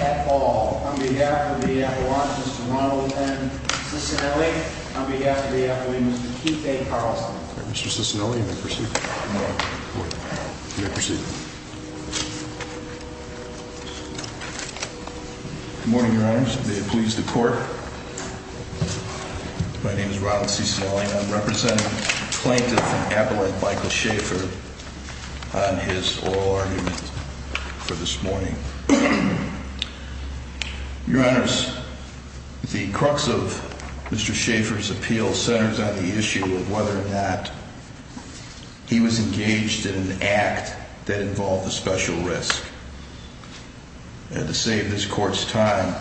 at all on behalf of the Appalachians to Ronald N. Cicinelli, on behalf of the Appalachians to Keith A. Carlson. Mr. Cicinelli, you may proceed. Good morning. You may proceed. Good morning, Your Honors. May it please the Court. My name is Ronald Cicinelli, and I'm representing Plaintiff from Appalachia, Michael Schaefer, on his oral argument for this morning. Your Honors, the crux of Mr. Schaefer's appeal centers on the issue of whether or not he was engaged in an act that involved a special risk. And to save this Court's time,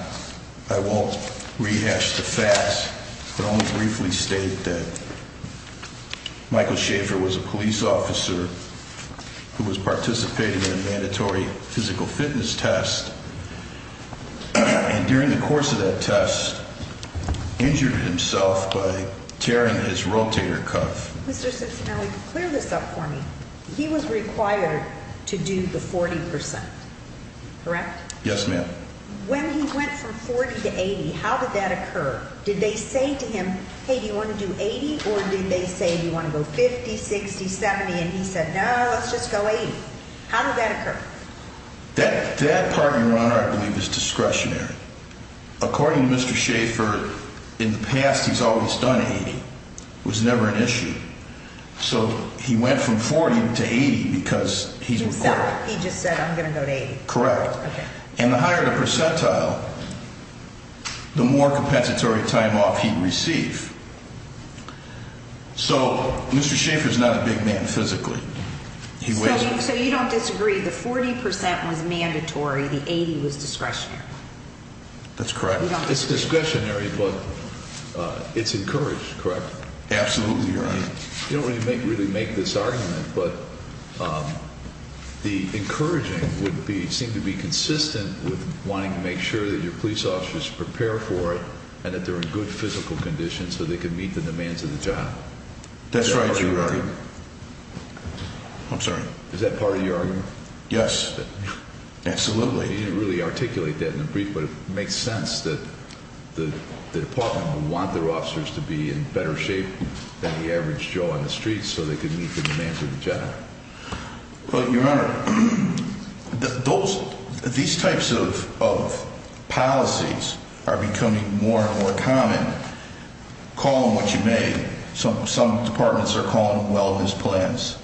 I won't rehash the facts, but only briefly state that Michael Schaefer was a police officer who was participating in a mandatory physical fitness test. And during the course of that test, injured himself by tearing his rotator cuff. Mr. Cicinelli, clear this up for me. He was required to do the 40%, correct? Yes, ma'am. When he went from 40 to 80, how did that occur? Did they say to him, hey, do you want to do 80? Or did they say, do you want to go 50, 60, 70? And he said, no, let's just go 80. How did that occur? That part, Your Honor, I believe is discretionary. According to Mr. Schaefer, in the past he's always done 80. It was never an issue. So he went from 40 to 80 because he's required. He just said, I'm going to go to 80. Correct. Okay. And the higher the percentile, the more compensatory time off he'd receive. So Mr. Schaefer's not a big man physically. So you don't disagree. The 40% was mandatory. The 80 was discretionary. That's correct. It's discretionary, but it's encouraged, correct? Absolutely, Your Honor. You don't really make this argument, but the encouraging would be, seem to be consistent with wanting to make sure that your police officers prepare for it and that they're in good physical condition so they can meet the demands of the job. That's right, Your Honor. I'm sorry. Is that part of your argument? Yes, absolutely. You didn't really articulate that in the brief, but it makes sense that the department would want their officers to be in better shape than the average Joe on the street so they could meet the demands of the job. Well, Your Honor, these types of policies are becoming more and more common. Call them what you may. Some departments are calling them wellness plans.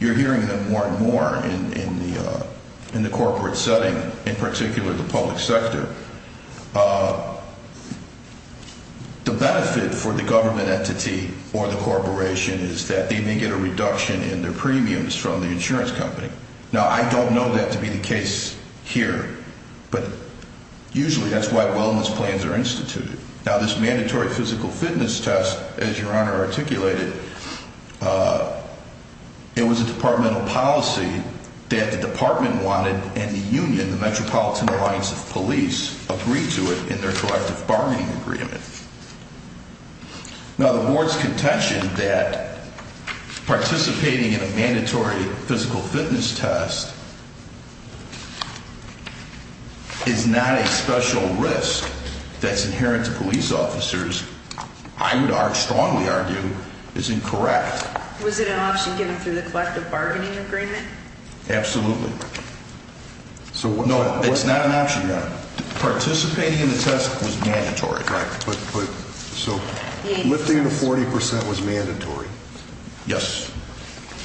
You're hearing them more and more in the corporate setting, in particular the public sector. The benefit for the government entity or the corporation is that they may get a reduction in their premiums from the insurance company. Now, I don't know that to be the case here, but usually that's why wellness plans are instituted. Now, this mandatory physical fitness test, as Your Honor articulated, it was a departmental policy that the department wanted, and the union, the Metropolitan Alliance of Police, agreed to it in their collective bargaining agreement. Now, the board's contention that participating in a mandatory physical fitness test is not a special risk that's inherent to police officers, I would strongly argue, is incorrect. Was it an option given through the collective bargaining agreement? Absolutely. No, it's not an option, Your Honor. Participating in the test was mandatory. So lifting the 40% was mandatory? Yes.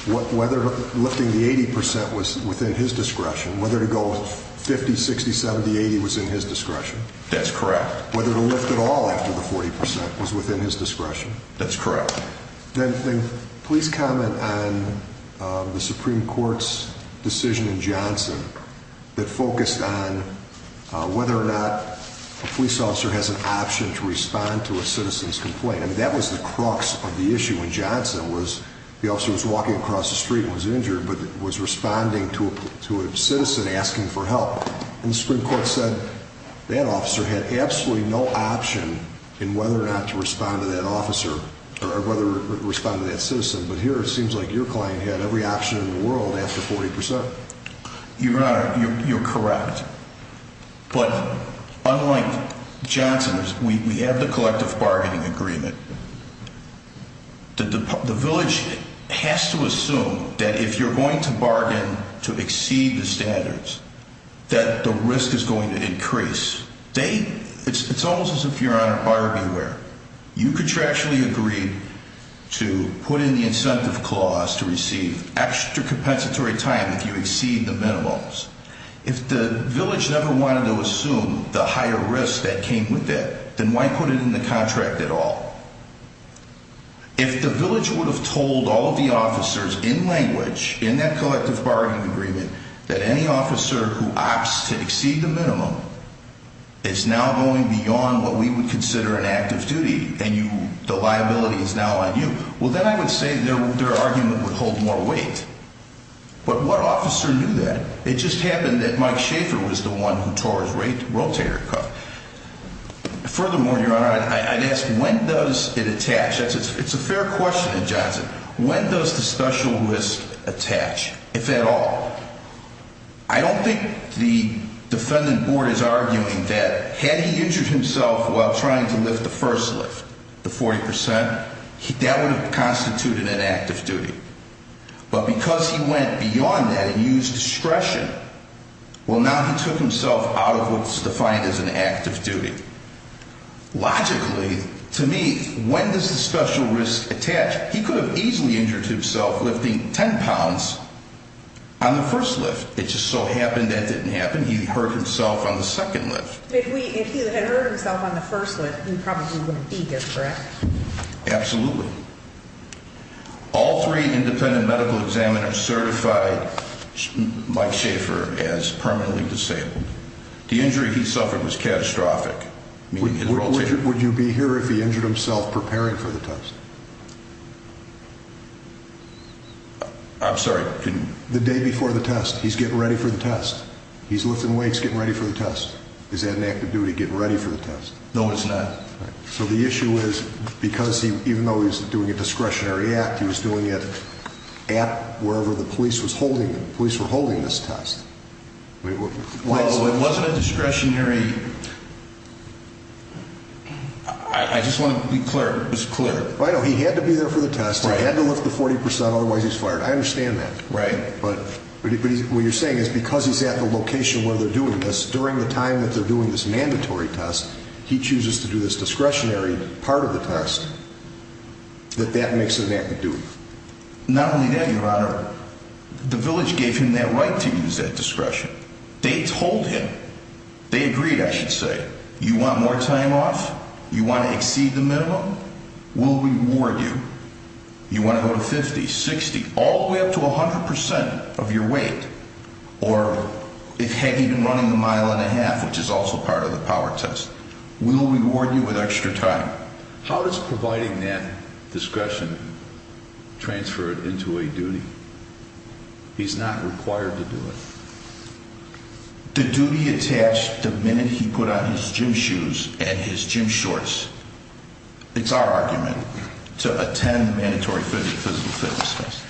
Whether lifting the 80% was within his discretion, whether to go 50, 60, 70, 80 was in his discretion? That's correct. Whether to lift at all after the 40% was within his discretion? That's correct. Then please comment on the Supreme Court's decision in Johnson that focused on whether or not a police officer has an option to respond to a citizen's complaint. I mean, that was the crux of the issue in Johnson was the officer was walking across the street and was injured, but was responding to a citizen asking for help. And the Supreme Court said that officer had absolutely no option in whether or not to respond to that officer or whether to respond to that citizen. But here it seems like your client had every option in the world after 40%. Your Honor, you're correct. But unlike Johnson, we have the collective bargaining agreement. The village has to assume that if you're going to bargain to exceed the standards, that the risk is going to increase. It's almost as if you're on a Barbie wear. You contractually agreed to put in the incentive clause to receive extra compensatory time if you exceed the minimums. If the village never wanted to assume the higher risk that came with that, then why put it in the contract at all? If the village would have told all of the officers in language in that collective bargaining agreement that any officer who opts to exceed the minimum is now going beyond what we would consider an active duty and the liability is now on you, well, then I would say their argument would hold more weight. But what officer knew that? It just happened that Mike Schaefer was the one who tore his rotator cuff. Furthermore, Your Honor, I'd ask when does it attach? It's a fair question in Johnson. When does the special risk attach, if at all? I don't think the defendant board is arguing that had he injured himself while trying to lift the first lift, the 40%, that would have constituted an active duty. But because he went beyond that and used discretion, well, now he took himself out of what's defined as an active duty. Logically, to me, when does the special risk attach? He could have easily injured himself lifting 10 pounds on the first lift. It just so happened that didn't happen. He hurt himself on the second lift. If he had hurt himself on the first lift, he probably wouldn't be here, correct? Absolutely. All three independent medical examiners certified Mike Schaefer as permanently disabled. The injury he suffered was catastrophic. Would you be here if he injured himself preparing for the test? I'm sorry. The day before the test, he's getting ready for the test. He's lifting weights, getting ready for the test. Is that an active duty, getting ready for the test? No, it's not. So the issue is because even though he's doing a discretionary act, he was doing it at wherever the police were holding this test. Well, it wasn't a discretionary. I just want to be clear. I know. He had to be there for the test. He had to lift the 40%. Otherwise, he's fired. I understand that. Right. But what you're saying is because he's at the location where they're doing this, during the time that they're doing this mandatory test, he chooses to do this discretionary part of the test, that that makes it an active duty. Not only that, Your Honor, the village gave him that right to use that discretion. They told him. They agreed, I should say. You want more time off? You want to exceed the minimum? We'll reward you. You want to go to 50, 60, all the way up to 100% of your weight? Or have you been running a mile and a half, which is also part of the power test? We'll reward you with extra time. How does providing that discretion transfer it into a duty? He's not required to do it. The duty attached the minute he put on his gym shoes and his gym shorts. It's our argument to attend the mandatory physical fitness test.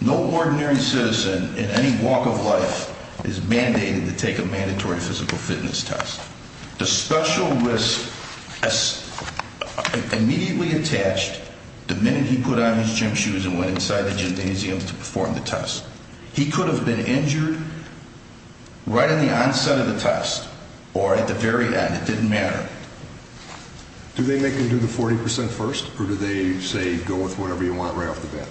No ordinary citizen in any walk of life is mandated to take a mandatory physical fitness test. The special risk is immediately attached the minute he put on his gym shoes and went inside the gymnasium to perform the test. He could have been injured right at the onset of the test or at the very end. It didn't matter. Do they make him do the 40% first or do they say go with whatever you want right off the bat?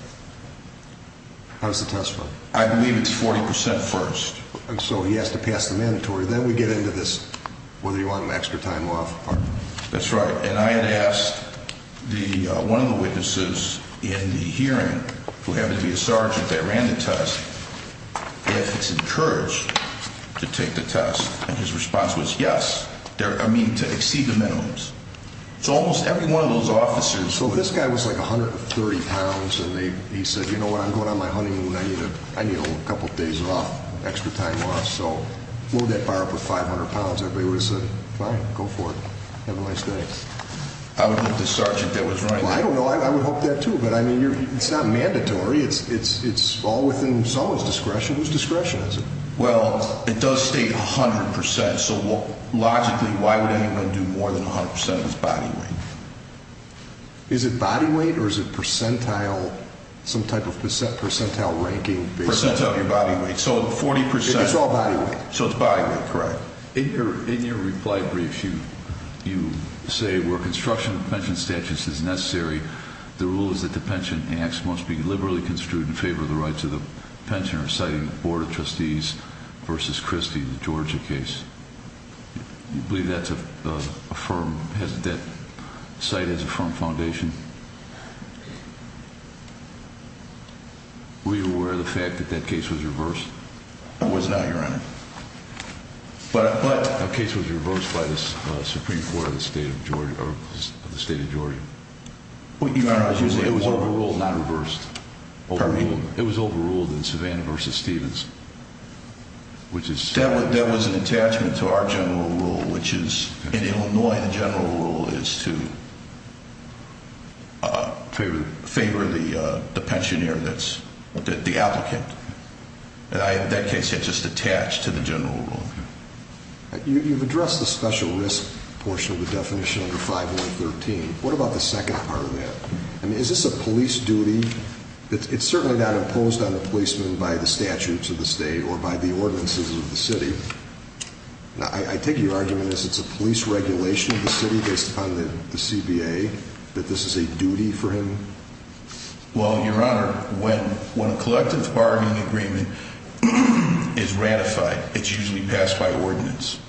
How does the test work? I believe it's 40% first. So he has to pass the mandatory. Then we get into this whether you want an extra time off. That's right. And I had asked one of the witnesses in the hearing, who happened to be a sergeant that ran the test, if it's encouraged to take the test. And his response was yes, I mean to exceed the minimums. So almost every one of those officers. So this guy was like 130 pounds and he said, you know what, I'm going on my honeymoon. I need a couple of days off, extra time off. So what would that fire up with 500 pounds? Everybody would have said fine, go for it. Have a nice day. I would hope the sergeant that was running it. I don't know. I would hope that too. But I mean, it's not mandatory. It's all within someone's discretion. Whose discretion is it? Well, it does state 100%. So logically, why would anyone do more than 100% of his body weight? Is it body weight or is it percentile, some type of percentile ranking? Percentile of your body weight. So 40%. It's all body weight. So it's body weight, correct. In your reply brief, you say where construction of pension statutes is necessary, the rule is that the pension act must be liberally construed in favor of the rights of the pensioner. You cited the board of trustees versus Christie in the Georgia case. Do you believe that's a firm, that site has a firm foundation? Were you aware of the fact that that case was reversed? It was not, Your Honor. But a case was reversed by the Supreme Court of the state of Georgia. It was overruled, not reversed. Pardon me? It was overruled. It was overruled in Savannah versus Stevens. That was an attachment to our general rule, which is in Illinois the general rule is to favor the pensioner, the applicant. In that case, it's just attached to the general rule. You've addressed the special risk portion of the definition under 5113. What about the second part of that? Is this a police duty? It's certainly not imposed on a policeman by the statutes of the state or by the ordinances of the city. I take your argument as it's a police regulation of the city based upon the CBA, that this is a duty for him? Well, Your Honor, when a collective bargaining agreement is ratified, it's usually passed by ordinance.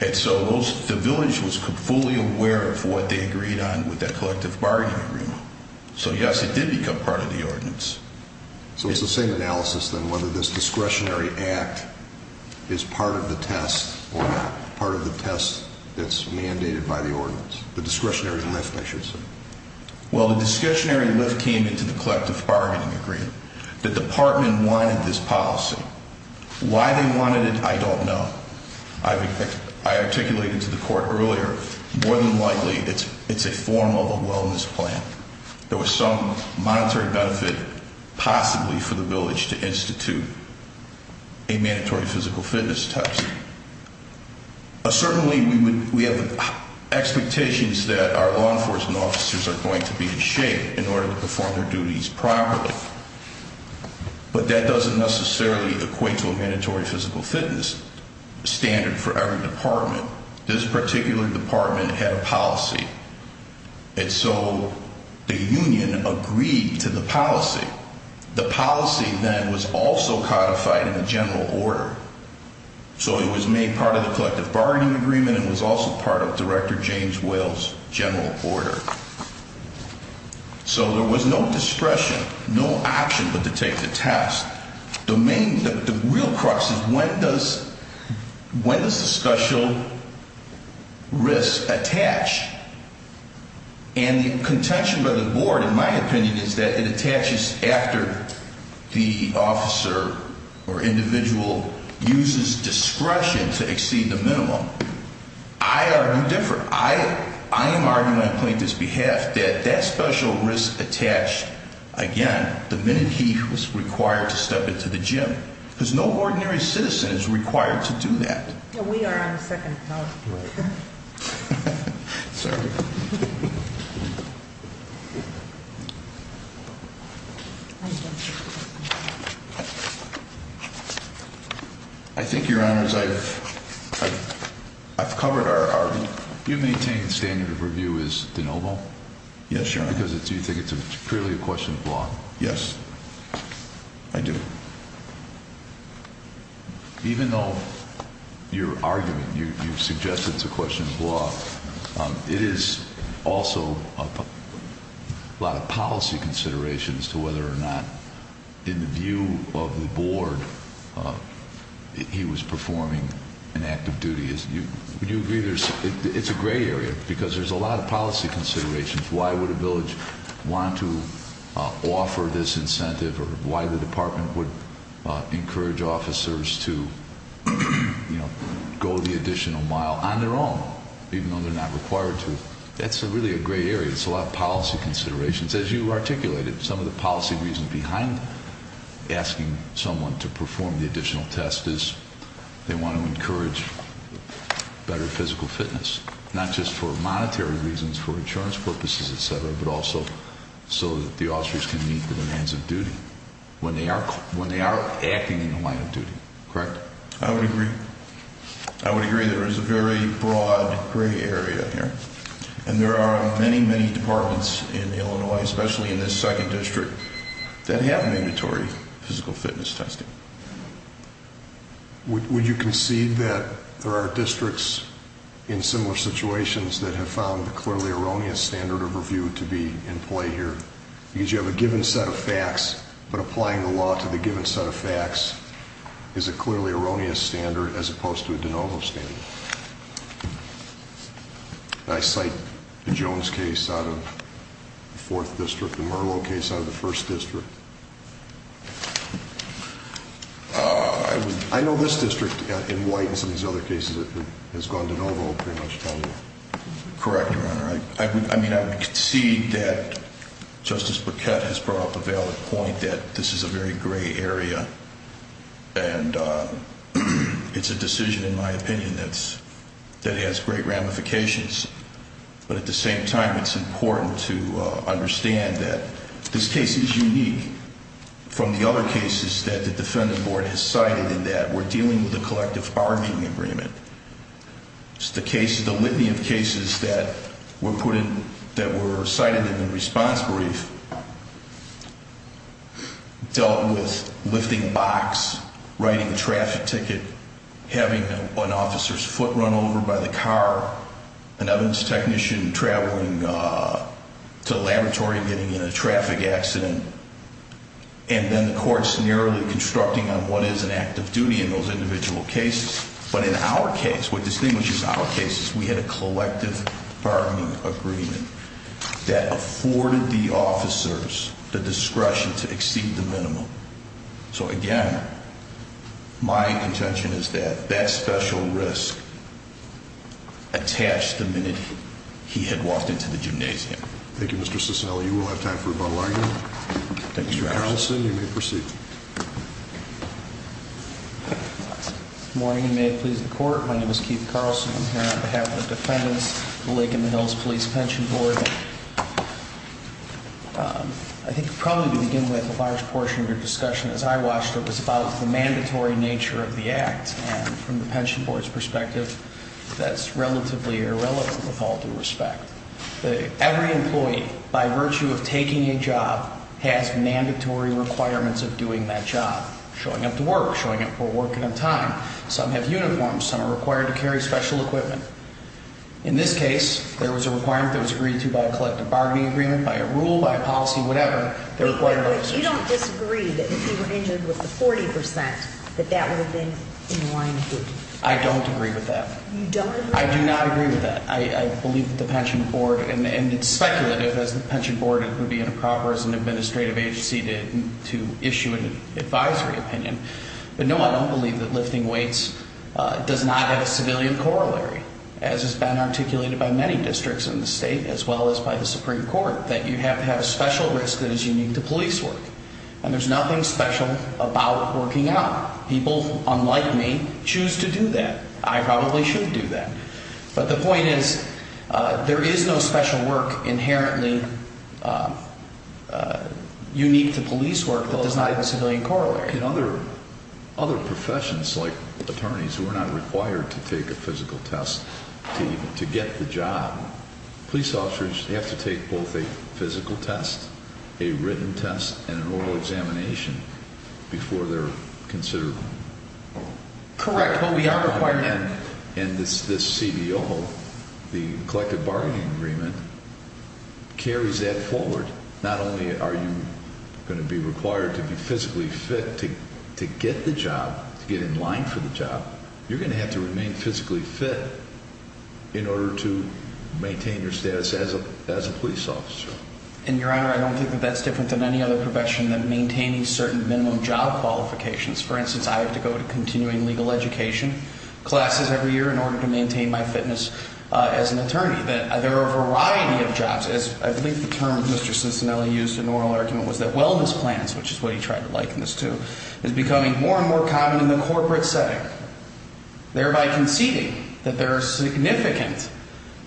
And so the village was fully aware of what they agreed on with that collective bargaining agreement. So, yes, it did become part of the ordinance. So it's the same analysis then whether this discretionary act is part of the test or not, part of the test that's mandated by the ordinance, the discretionary lift, I should say. Well, the discretionary lift came into the collective bargaining agreement. The department wanted this policy. Why they wanted it, I don't know. I articulated to the court earlier, more than likely it's a form of a wellness plan. There was some monetary benefit possibly for the village to institute a mandatory physical fitness test. Certainly, we have expectations that our law enforcement officers are going to be in shape in order to perform their duties properly. But that doesn't necessarily equate to a mandatory physical fitness standard for every department. This particular department had a policy. And so the union agreed to the policy. The policy then was also codified in the general order. So it was made part of the collective bargaining agreement and was also part of Director James Will's general order. So there was no discretion, no option but to take the test. The real crux is when does the special risk attach? And the contention by the board, in my opinion, is that it attaches after the officer or individual uses discretion to exceed the minimum. I argue different. I am arguing on plaintiff's behalf that that special risk attached, again, the minute he was required to step into the gym. Because no ordinary citizen is required to do that. We are on the second house. Sorry. I think, your honors, I've covered our you maintain standard of review is the noble. Yes, sir. Because it's you think it's clearly a question of law. Yes, I do. Even though your argument, you've suggested it's a question of law. It is also a lot of policy considerations to whether or not, in the view of the board, he was performing an active duty. Would you agree there's it's a gray area because there's a lot of policy considerations. Why would a village want to offer this incentive or why the department would encourage officers to go the additional mile on their own? Even though they're not required to. That's really a gray area. It's a lot of policy considerations. As you articulated, some of the policy reasons behind asking someone to perform the additional test is they want to encourage better physical fitness. Not just for monetary reasons, for insurance purposes, et cetera, but also so that the officers can meet the demands of duty when they are when they are acting in the line of duty. Correct. I would agree. I would agree. There is a very broad gray area here. And there are many, many departments in Illinois, especially in this second district that have mandatory physical fitness testing. Would you concede that there are districts in similar situations that have found the clearly erroneous standard of review to be in play here? Because you have a given set of facts, but applying the law to the given set of facts is a clearly erroneous standard as opposed to a de novo standard. I cite the Jones case out of the fourth district, the Merlo case out of the first district. I know this district in White and some of these other cases has gone de novo pretty much. Correct, Your Honor. I mean, I would concede that Justice Paquette has brought up a valid point that this is a very gray area. And it's a decision, in my opinion, that has great ramifications. But at the same time, it's important to understand that this case is unique from the other cases that the Defendant Board has cited, and that we're dealing with a collective bargaining agreement. The litany of cases that were cited in the response brief dealt with lifting box, writing a traffic ticket, having an officer's foot run over by the car, an evidence technician traveling to the laboratory and getting in a traffic accident, and then the courts narrowly constructing on what is an act of duty in those individual cases. But in our case, what distinguishes our case is we had a collective bargaining agreement that afforded the officers the discretion to exceed the minimum. So, again, my contention is that that special risk attached the minute he had walked into the gymnasium. Thank you, Mr. Cicilla. You will have time for rebuttal argument. Thank you, Your Honor. Mr. Carlson, you may proceed. Good morning, and may it please the Court. My name is Keith Carlson. I'm here on behalf of the defendants of the Lake and the Hills Police Pension Board. I think probably to begin with, a large portion of your discussion, as I watched it, was about the mandatory nature of the act. And from the pension board's perspective, that's relatively irrelevant with all due respect. Every employee, by virtue of taking a job, has mandatory requirements of doing that job, showing up to work, showing up for work on time. Some have uniforms. Some are required to carry special equipment. In this case, there was a requirement that was agreed to by a collective bargaining agreement, by a rule, by a policy, whatever. But you don't disagree that if he were injured with the 40 percent, that that would have been in line with it. I don't agree with that. You don't agree? I do not agree with that. I believe that the pension board, and it's speculative, as the pension board would be in a proper as an administrative agency to issue an advisory opinion. But no, I don't believe that lifting weights does not have a civilian corollary. As has been articulated by many districts in the state, as well as by the Supreme Court, that you have to have a special risk that is unique to police work. And there's nothing special about working out. People, unlike me, choose to do that. I probably should do that. But the point is, there is no special work inherently unique to police work that does not have a civilian corollary. What can other professions, like attorneys, who are not required to take a physical test to get the job, police officers, they have to take both a physical test, a written test, and an oral examination before they're considered. Correct. But we are required. And this CBO, the Collective Bargaining Agreement, carries that forward. Not only are you going to be required to be physically fit to get the job, to get in line for the job, you're going to have to remain physically fit in order to maintain your status as a police officer. And, Your Honor, I don't think that that's different than any other profession than maintaining certain minimum job qualifications. For instance, I have to go to continuing legal education classes every year in order to maintain my fitness as an attorney. There are a variety of jobs. I believe the term Mr. Cincinnati used in an oral argument was that wellness plans, which is what he tried to liken this to, is becoming more and more common in the corporate setting, thereby conceding that there are significant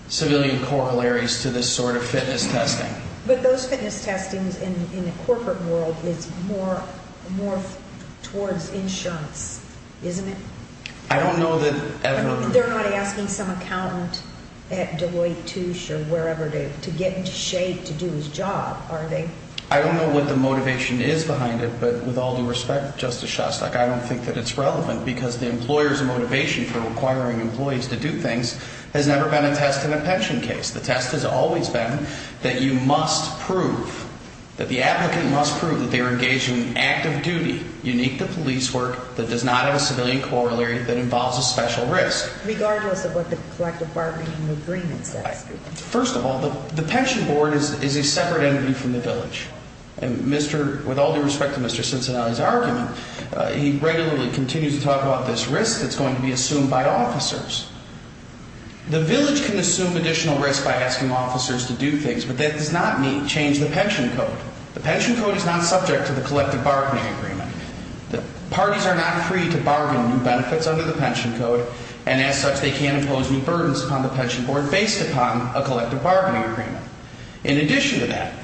civilian corollaries to this sort of fitness testing. But those fitness testings in the corporate world is more towards insurance, isn't it? I don't know that ever. They're not asking some accountant at Deloitte, Touche, or wherever to get into shape to do his job, are they? I don't know what the motivation is behind it, but with all due respect, Justice Shostak, I don't think that it's relevant because the employer's motivation for requiring employees to do things has never been a test in a pension case. The test has always been that you must prove, that the applicant must prove that they are engaged in active duty, unique to police work, that does not have a civilian corollary, that involves a special risk. Regardless of what the collective bargaining agreements ask you. First of all, the pension board is a separate entity from the village. And with all due respect to Mr. Cincinnati's argument, he regularly continues to talk about this risk that's going to be assumed by officers. The village can assume additional risk by asking officers to do things, but that does not mean change the pension code. The pension code is not subject to the collective bargaining agreement. Parties are not free to bargain new benefits under the pension code, and as such, they can't impose new burdens upon the pension board based upon a collective bargaining agreement. In addition to that,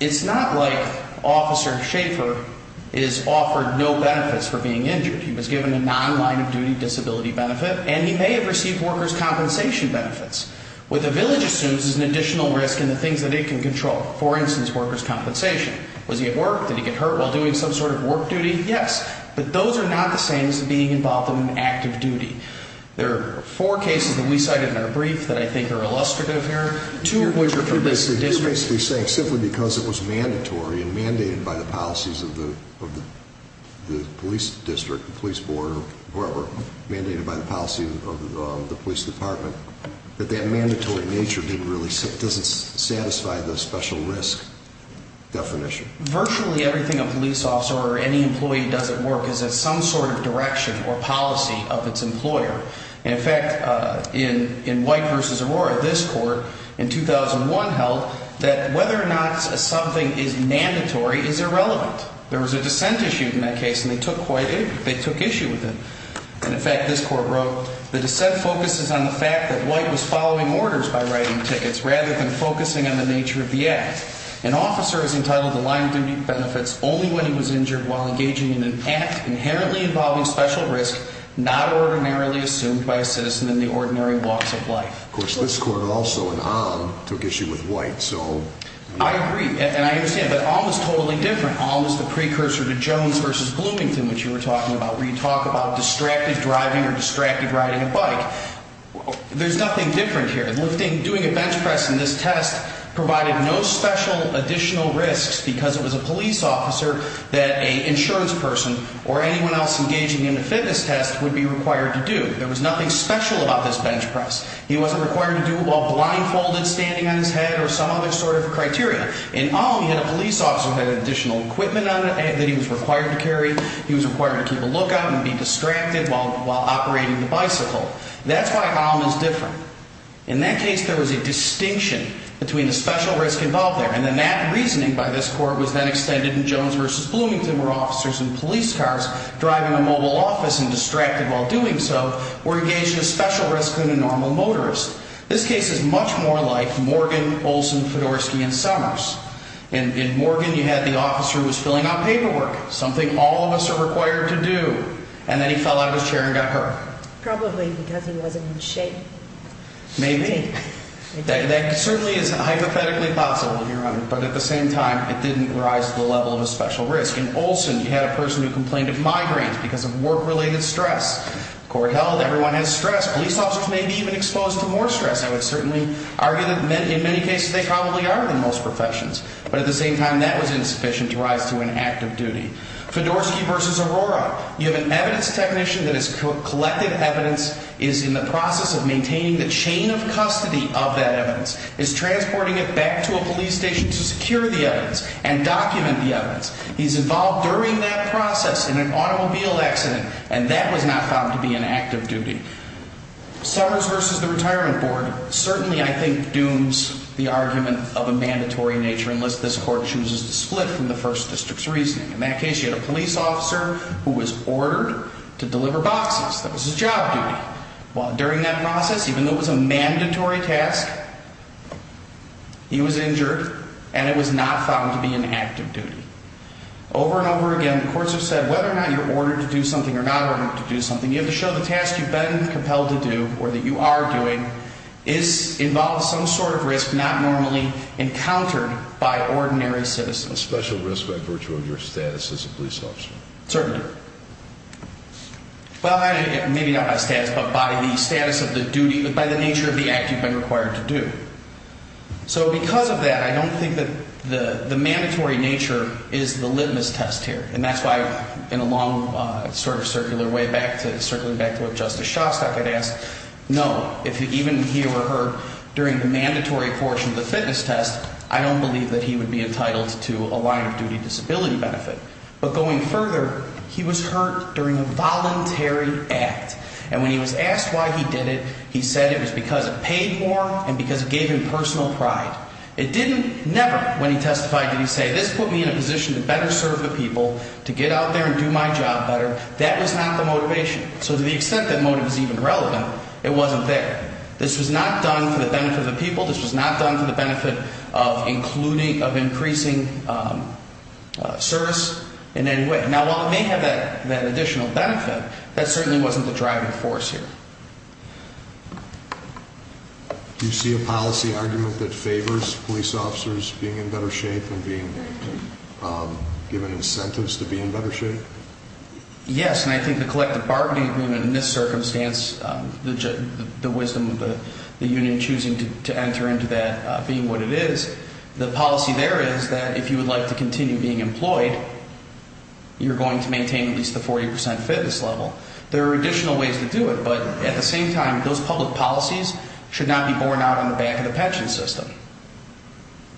it's not like Officer Schaefer is offered no benefits for being injured. He was given a non-line-of-duty disability benefit, and he may have received workers' compensation benefits. What the village assumes is an additional risk in the things that it can control. For instance, workers' compensation. Was he at work? Did he get hurt while doing some sort of work duty? Yes. But those are not the same as being involved in active duty. There are four cases that we cited in our brief that I think are illustrative here. He's basically saying simply because it was mandatory and mandated by the policies of the police district, police board, or whoever, mandated by the policy of the police department, that that mandatory nature doesn't satisfy the special risk definition. Virtually everything a police officer or any employee does at work is in some sort of direction or policy of its employer. And, in fact, in White v. Aurora, this court in 2001 held that whether or not something is mandatory is irrelevant. There was a dissent issued in that case, and they took issue with it. And, in fact, this court wrote, the dissent focuses on the fact that White was following orders by writing tickets rather than focusing on the nature of the act. An officer is entitled to line-of-duty benefits only when he was injured while engaging in an act inherently involving special risk not ordinarily assumed by a citizen in the ordinary walks of life. Of course, this court also, in Alm, took issue with White. I agree, and I understand. But Alm is totally different. Alm is the precursor to Jones v. Bloomington, which you were talking about, where you talk about distracted driving or distracted riding a bike. There's nothing different here. Doing a bench press in this test provided no special additional risks because it was a police officer that an insurance person or anyone else engaging in a fitness test would be required to do. There was nothing special about this bench press. He wasn't required to do it while blindfolded, standing on his head, or some other sort of criteria. In Alm, he had a police officer who had additional equipment on him that he was required to carry. He was required to keep a lookout and be distracted while operating the bicycle. That's why Alm is different. In that case, there was a distinction between the special risk involved there, and then that reasoning by this court was then extended in Jones v. Bloomington, where officers in police cars driving a mobile office and distracted while doing so were engaged in a special risk than a normal motorist. This case is much more like Morgan, Olson, Fedorsky, and Summers. In Morgan, you had the officer who was filling out paperwork, something all of us are required to do, and then he fell out of his chair and got hurt. Probably because he wasn't in shape. Maybe. That certainly is hypothetically possible, Your Honor, but at the same time, it didn't rise to the level of a special risk. In Olson, you had a person who complained of migraines because of work-related stress. The court held everyone had stress. Police officers may be even exposed to more stress. I would certainly argue that in many cases they probably are in most professions, but at the same time, that was insufficient to rise to an active duty. Fedorsky v. Aurora. You have an evidence technician that is collecting evidence, is in the process of maintaining the chain of custody of that evidence, is transporting it back to a police station to secure the evidence and document the evidence. He's involved during that process in an automobile accident, and that was not found to be an active duty. Summers v. The Retirement Board certainly, I think, dooms the argument of a mandatory nature unless this court chooses to split from the First District's reasoning. In that case, you had a police officer who was ordered to deliver boxes. That was his job duty. During that process, even though it was a mandatory task, he was injured, and it was not found to be an active duty. Over and over again, the courts have said whether or not you're ordered to do something or not ordered to do something, you have to show the task you've been compelled to do or that you are doing involves some sort of risk not normally encountered by ordinary citizens. A special risk by virtue of your status as a police officer. Certainly. Well, maybe not by status, but by the status of the duty, by the nature of the act you've been required to do. So because of that, I don't think that the mandatory nature is the litmus test here. And that's why, in a long sort of circular way, circling back to what Justice Shostak had asked, no, if even he or her, during the mandatory portion of the fitness test, I don't believe that he would be entitled to a line-of-duty disability benefit. But going further, he was hurt during a voluntary act. And when he was asked why he did it, he said it was because it paid more and because it gave him personal pride. It didn't never, when he testified, did he say this put me in a position to better serve the people, to get out there and do my job better. That was not the motivation. So to the extent that motive is even relevant, it wasn't there. This was not done for the benefit of the people. This was not done for the benefit of including, of increasing service in any way. Now, while it may have that additional benefit, that certainly wasn't the driving force here. Do you see a policy argument that favors police officers being in better shape and being given incentives to be in better shape? Yes. And I think the collective bargaining agreement in this circumstance, the wisdom of the union choosing to enter into that being what it is, the policy there is that if you would like to continue being employed, you're going to maintain at least the 40 percent fitness level. There are additional ways to do it, but at the same time, those public policies should not be borne out on the back of the pension system.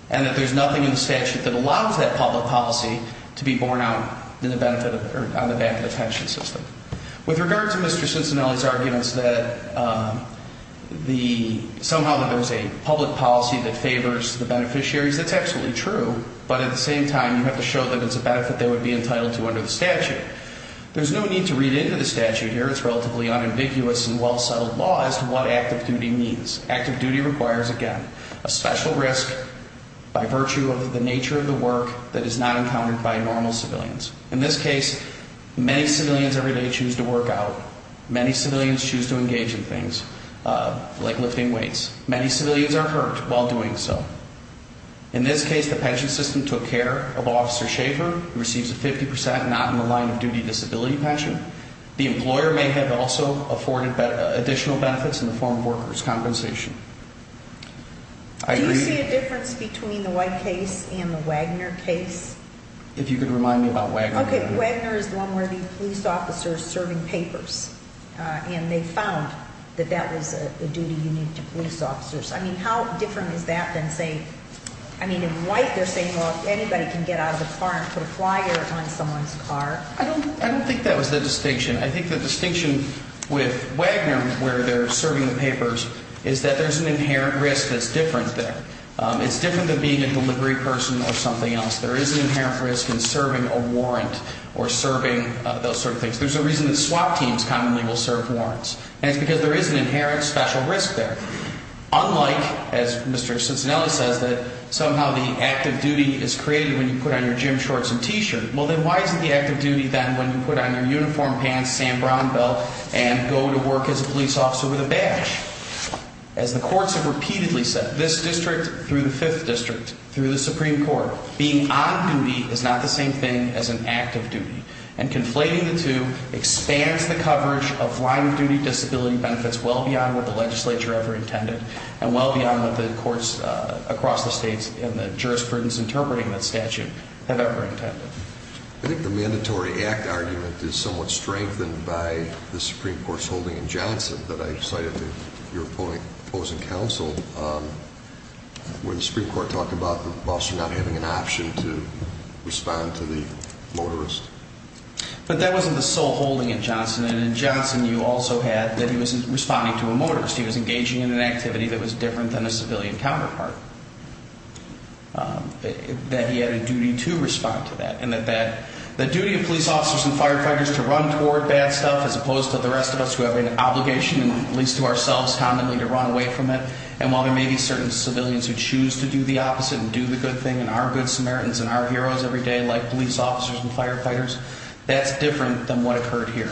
And that there's nothing in the statute that allows that public policy to be borne out on the back of the pension system. With regard to Mr. Cincinnati's arguments that somehow there's a public policy that favors the beneficiaries, that's absolutely true. But at the same time, you have to show that it's a benefit they would be entitled to under the statute. There's no need to read into the statute here. It's relatively unambiguous and well-settled law as to what active duty means. Active duty requires, again, a special risk by virtue of the nature of the work that is not encountered by normal civilians. In this case, many civilians every day choose to work out. Many civilians choose to engage in things like lifting weights. Many civilians are hurt while doing so. In this case, the pension system took care of Officer Schaefer. He receives a 50 percent not-in-the-line-of-duty disability pension. The employer may have also afforded additional benefits in the form of workers' compensation. Do you see a difference between the White case and the Wagner case? If you could remind me about Wagner. Okay, Wagner is the one where the police officer is serving papers, and they found that that was a duty unique to police officers. I mean, how different is that than, say, I mean, in White they're saying, well, anybody can get out of the car and put a flyer on someone's car. I don't think that was the distinction. I think the distinction with Wagner where they're serving the papers is that there's an inherent risk that's different there. It's different than being a delivery person or something else. There is an inherent risk in serving a warrant or serving those sort of things. There's a reason that SWAT teams commonly will serve warrants, and it's because there is an inherent special risk there. Unlike, as Mr. Cicinelli says, that somehow the active duty is created when you put on your gym shorts and T-shirt. Well, then why isn't the active duty then when you put on your uniform pants, Sam Brown belt, and go to work as a police officer with a badge? As the courts have repeatedly said, this district through the Fifth District, through the Supreme Court, being on duty is not the same thing as an active duty. And conflating the two expands the coverage of line of duty disability benefits well beyond what the legislature ever intended and well beyond what the courts across the states and the jurisprudence interpreting that statute have ever intended. I think the mandatory act argument is somewhat strengthened by the Supreme Court's holding in Johnson that I cited to your opposing counsel when the Supreme Court talked about the boss not having an option to respond to the motorist. But that wasn't the sole holding in Johnson, and in Johnson you also had that he was responding to a motorist. He was engaging in an activity that was different than a civilian counterpart, that he had a duty to respond to that, and that the duty of police officers and firefighters to run toward bad stuff as opposed to the rest of us who have an obligation, at least to ourselves commonly, to run away from it. And while there may be certain civilians who choose to do the opposite and do the good thing and are good Samaritans and are heroes every day like police officers and firefighters, that's different than what occurred here.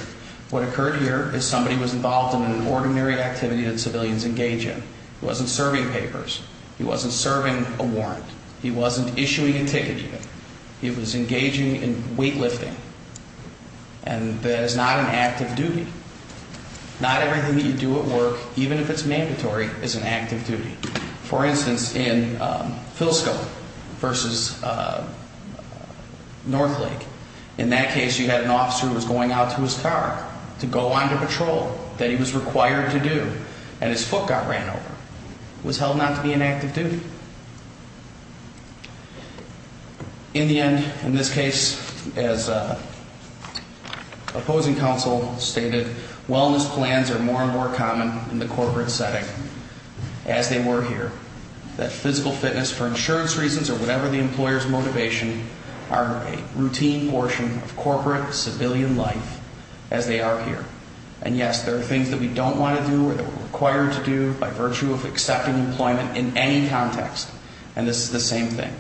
What occurred here is somebody was involved in an ordinary activity that civilians engage in. He wasn't serving papers. He wasn't serving a warrant. He wasn't issuing a ticket. He was engaging in weightlifting. And that is not an active duty. Not everything that you do at work, even if it's mandatory, is an active duty. For instance, in Filsco versus Northlake, in that case you had an officer who was going out to his car to go on to patrol that he was required to do, and his foot got ran over. It was held not to be an active duty. In the end, in this case, as opposing counsel stated, wellness plans are more and more common in the corporate setting as they were here. That physical fitness, for insurance reasons or whatever the employer's motivation, are a routine portion of corporate civilian life as they are here. And, yes, there are things that we don't want to do or that we're required to do by virtue of accepting employment in any context. And this is the same thing.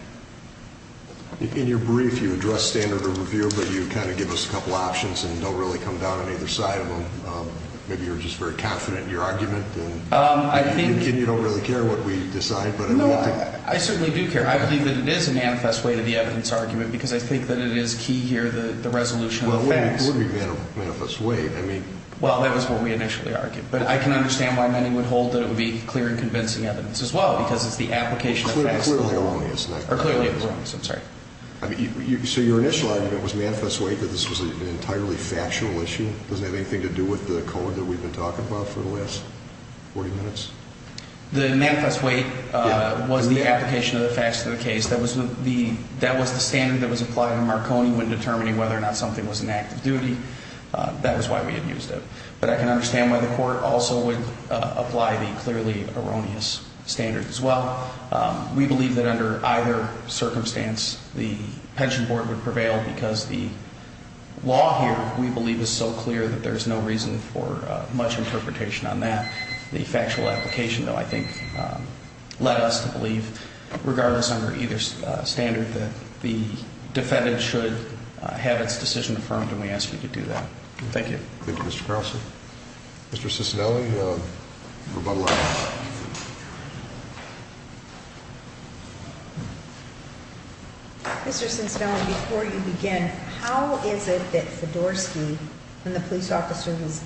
In your brief, you address standard of review, but you kind of give us a couple options and don't really come down on either side of them. Maybe you're just very confident in your argument and you don't really care what we decide. No, I certainly do care. I believe that it is a manifest way to the evidence argument because I think that it is key here, the resolution of the facts. It would be a manifest way. Well, that was what we initially argued. But I can understand why many would hold that it would be clear and convincing evidence as well because it's the application of facts. Clearly, it was wrong. Clearly, it was wrong. I'm sorry. So your initial argument was manifest way that this was an entirely factual issue? Does it have anything to do with the code that we've been talking about for the last 40 minutes? The manifest way was the application of the facts of the case. That was the standard that was applied in Marconi when determining whether or not something was an act of duty. That was why we had used it. But I can understand why the court also would apply the clearly erroneous standard as well. We believe that under either circumstance, the pension board would prevail because the law here, we believe, is so clear that there's no reason for much interpretation on that. The factual application, though, I think, led us to believe, regardless under either standard, that the defendant should have its decision affirmed. And we asked you to do that. Thank you. Thank you, Mr. Carlson. Mr. Cicinelli, rebuttal item. Mr. Cicinelli, before you begin, how is it that Fedorsky and the police officer who's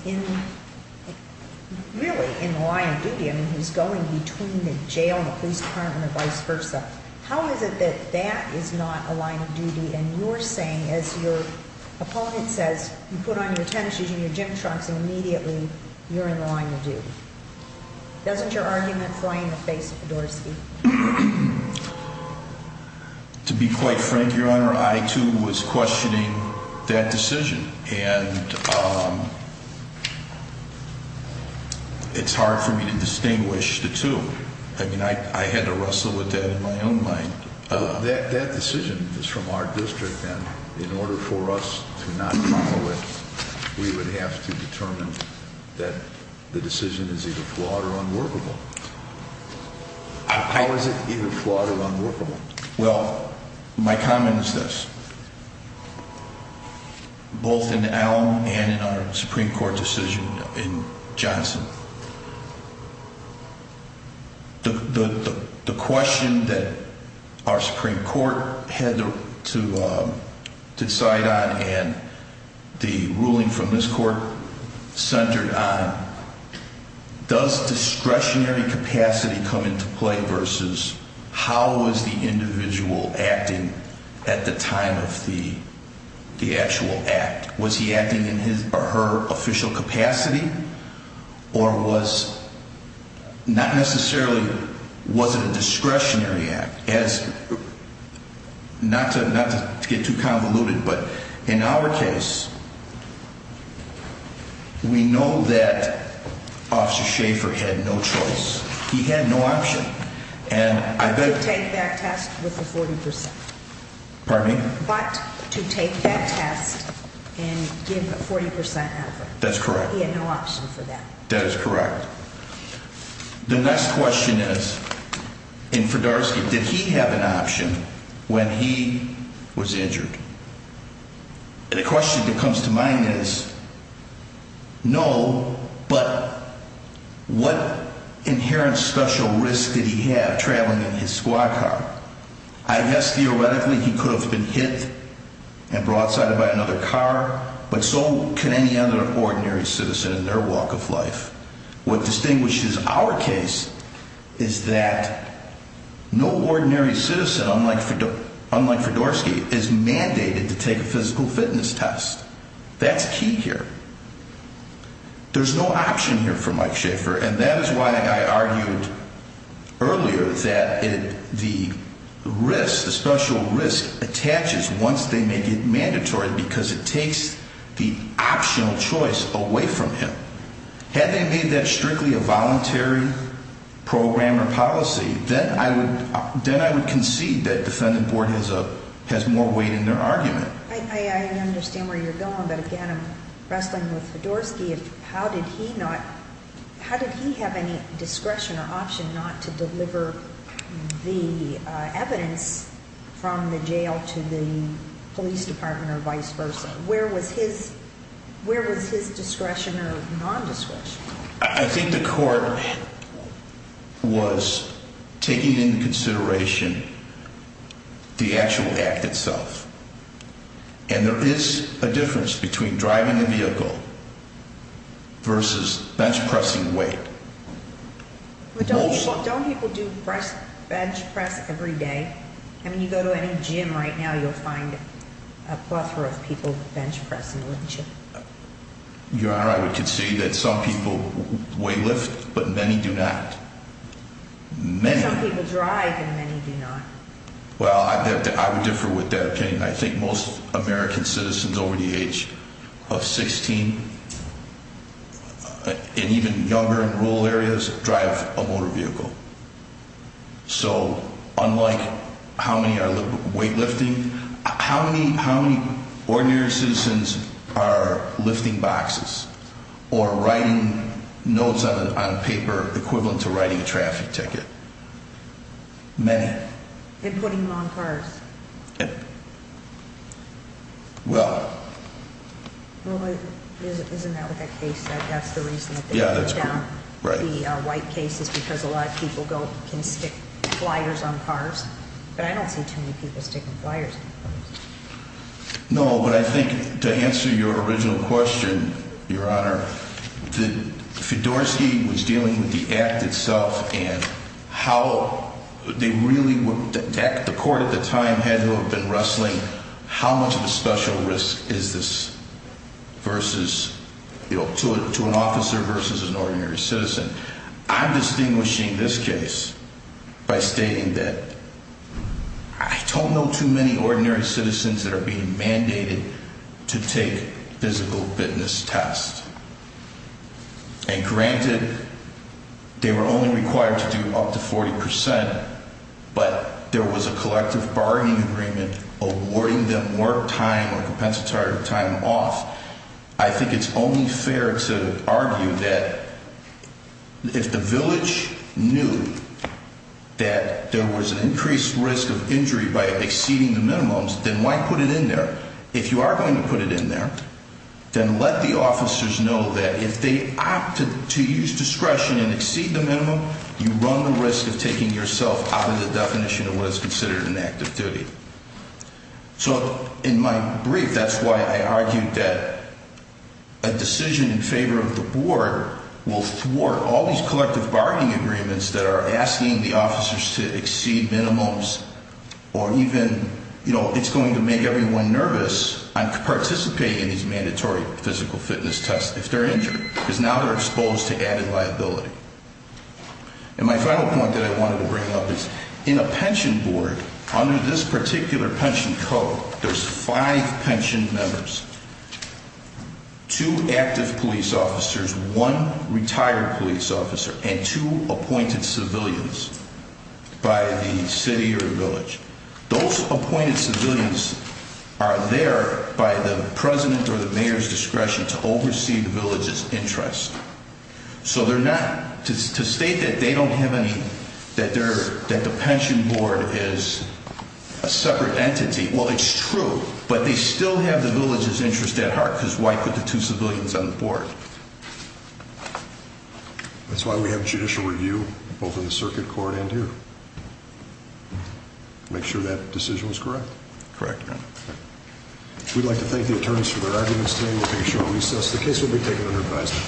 really in the line of duty, I mean, who's going between the jail and the police department and vice versa, how is it that that is not a line of duty and you're saying, as your opponent says, you put on your tennis shoes and your gym trunks and immediately you're in the line of duty? Doesn't your argument throw you in the face of Fedorsky? To be quite frank, Your Honor, I, too, was questioning that decision. And it's hard for me to distinguish the two. I mean, I had to wrestle with that in my own mind. That decision is from our district, and in order for us to not follow it, we would have to determine that the decision is either flawed or unworkable. How is it either flawed or unworkable? Well, my comment is this. The question that our Supreme Court had to decide on and the ruling from this court centered on, does discretionary capacity come into play versus how is the individual acting at the time of the actual act? Was he acting in his or her official capacity or was not necessarily, was it a discretionary act? Not to get too convoluted, but in our case, we know that Officer Schaffer had no choice. He had no option. But to take that test with a 40%. Pardon me? But to take that test and give a 40% effort. That's correct. He had no option for that. That is correct. The next question is, in Fedorsky, did he have an option when he was injured? The question that comes to mind is, no, but what inherent special risk did he have traveling in his squad car? I guess theoretically he could have been hit and broadsided by another car, but so can any other ordinary citizen in their walk of life. What distinguishes our case is that no ordinary citizen, unlike Fedorsky, is mandated to take a physical fitness test. That's key here. There's no option here for Mike Schaffer, and that is why I argued earlier that the risk, the special risk, attaches once they make it mandatory because it takes the optional choice away from him. Had they made that strictly a voluntary program or policy, then I would concede that defendant board has more weight in their argument. I understand where you're going, but again, I'm wrestling with Fedorsky. How did he not, how did he have any discretion or option not to deliver the evidence from the jail to the police department or vice versa? Where was his discretion or non-discretion? I think the court was taking into consideration the actual act itself, and there is a difference between driving a vehicle versus bench-pressing weight. Don't people do bench-press every day? I mean, you go to any gym right now, you'll find a plethora of people bench-pressing, wouldn't you? Your Honor, I would concede that some people weight lift, but many do not. Some people drive, and many do not. Well, I would differ with that opinion. I think most American citizens over the age of 16 and even younger in rural areas drive a motor vehicle. So unlike how many are weight lifting, how many ordinary citizens are lifting boxes or writing notes on paper equivalent to writing a traffic ticket? Many. And putting them on cars. Well. Well, isn't that what that case said? That's the reason that they put down the white cases, because a lot of people can stick flyers on cars. But I don't see too many people sticking flyers on cars. No, but I think to answer your original question, Your Honor, that Fedorsky was dealing with the act itself and how they really would – the court at the time had to have been wrestling how much of a special risk is this versus – to an officer versus an ordinary citizen. I'm distinguishing this case by stating that I don't know too many ordinary citizens that are being mandated to take physical fitness tests. And granted, they were only required to do up to 40 percent, but there was a collective bargaining agreement awarding them work time or compensatory time off. I think it's only fair to argue that if the village knew that there was an increased risk of injury by exceeding the minimums, then why put it in there? If you are going to put it in there, then let the officers know that if they opted to use discretion and exceed the minimum, you run the risk of taking yourself out of the definition of what is considered an act of duty. So in my brief, that's why I argued that a decision in favor of the board will thwart all these collective bargaining agreements that are asking the officers to exceed minimums or even – you know, it's going to make everyone nervous on participating in these mandatory physical fitness tests if they're injured because now they're exposed to added liability. And my final point that I wanted to bring up is in a pension board, under this particular pension code, there's five pension members, two active police officers, one retired police officer, and two appointed civilians by the city or village. Those appointed civilians are there by the president or the mayor's discretion to oversee the village's interest. So they're not – to state that they don't have any – that the pension board is a separate entity, well, it's true, but they still have the village's interest at heart because why put the two civilians on the board? That's why we have judicial review, both in the circuit court and here. Make sure that decision was correct? Correct, Your Honor. We'd like to thank the attorneys for their arguments today. We'll take a short recess. The case will be taken under advisory.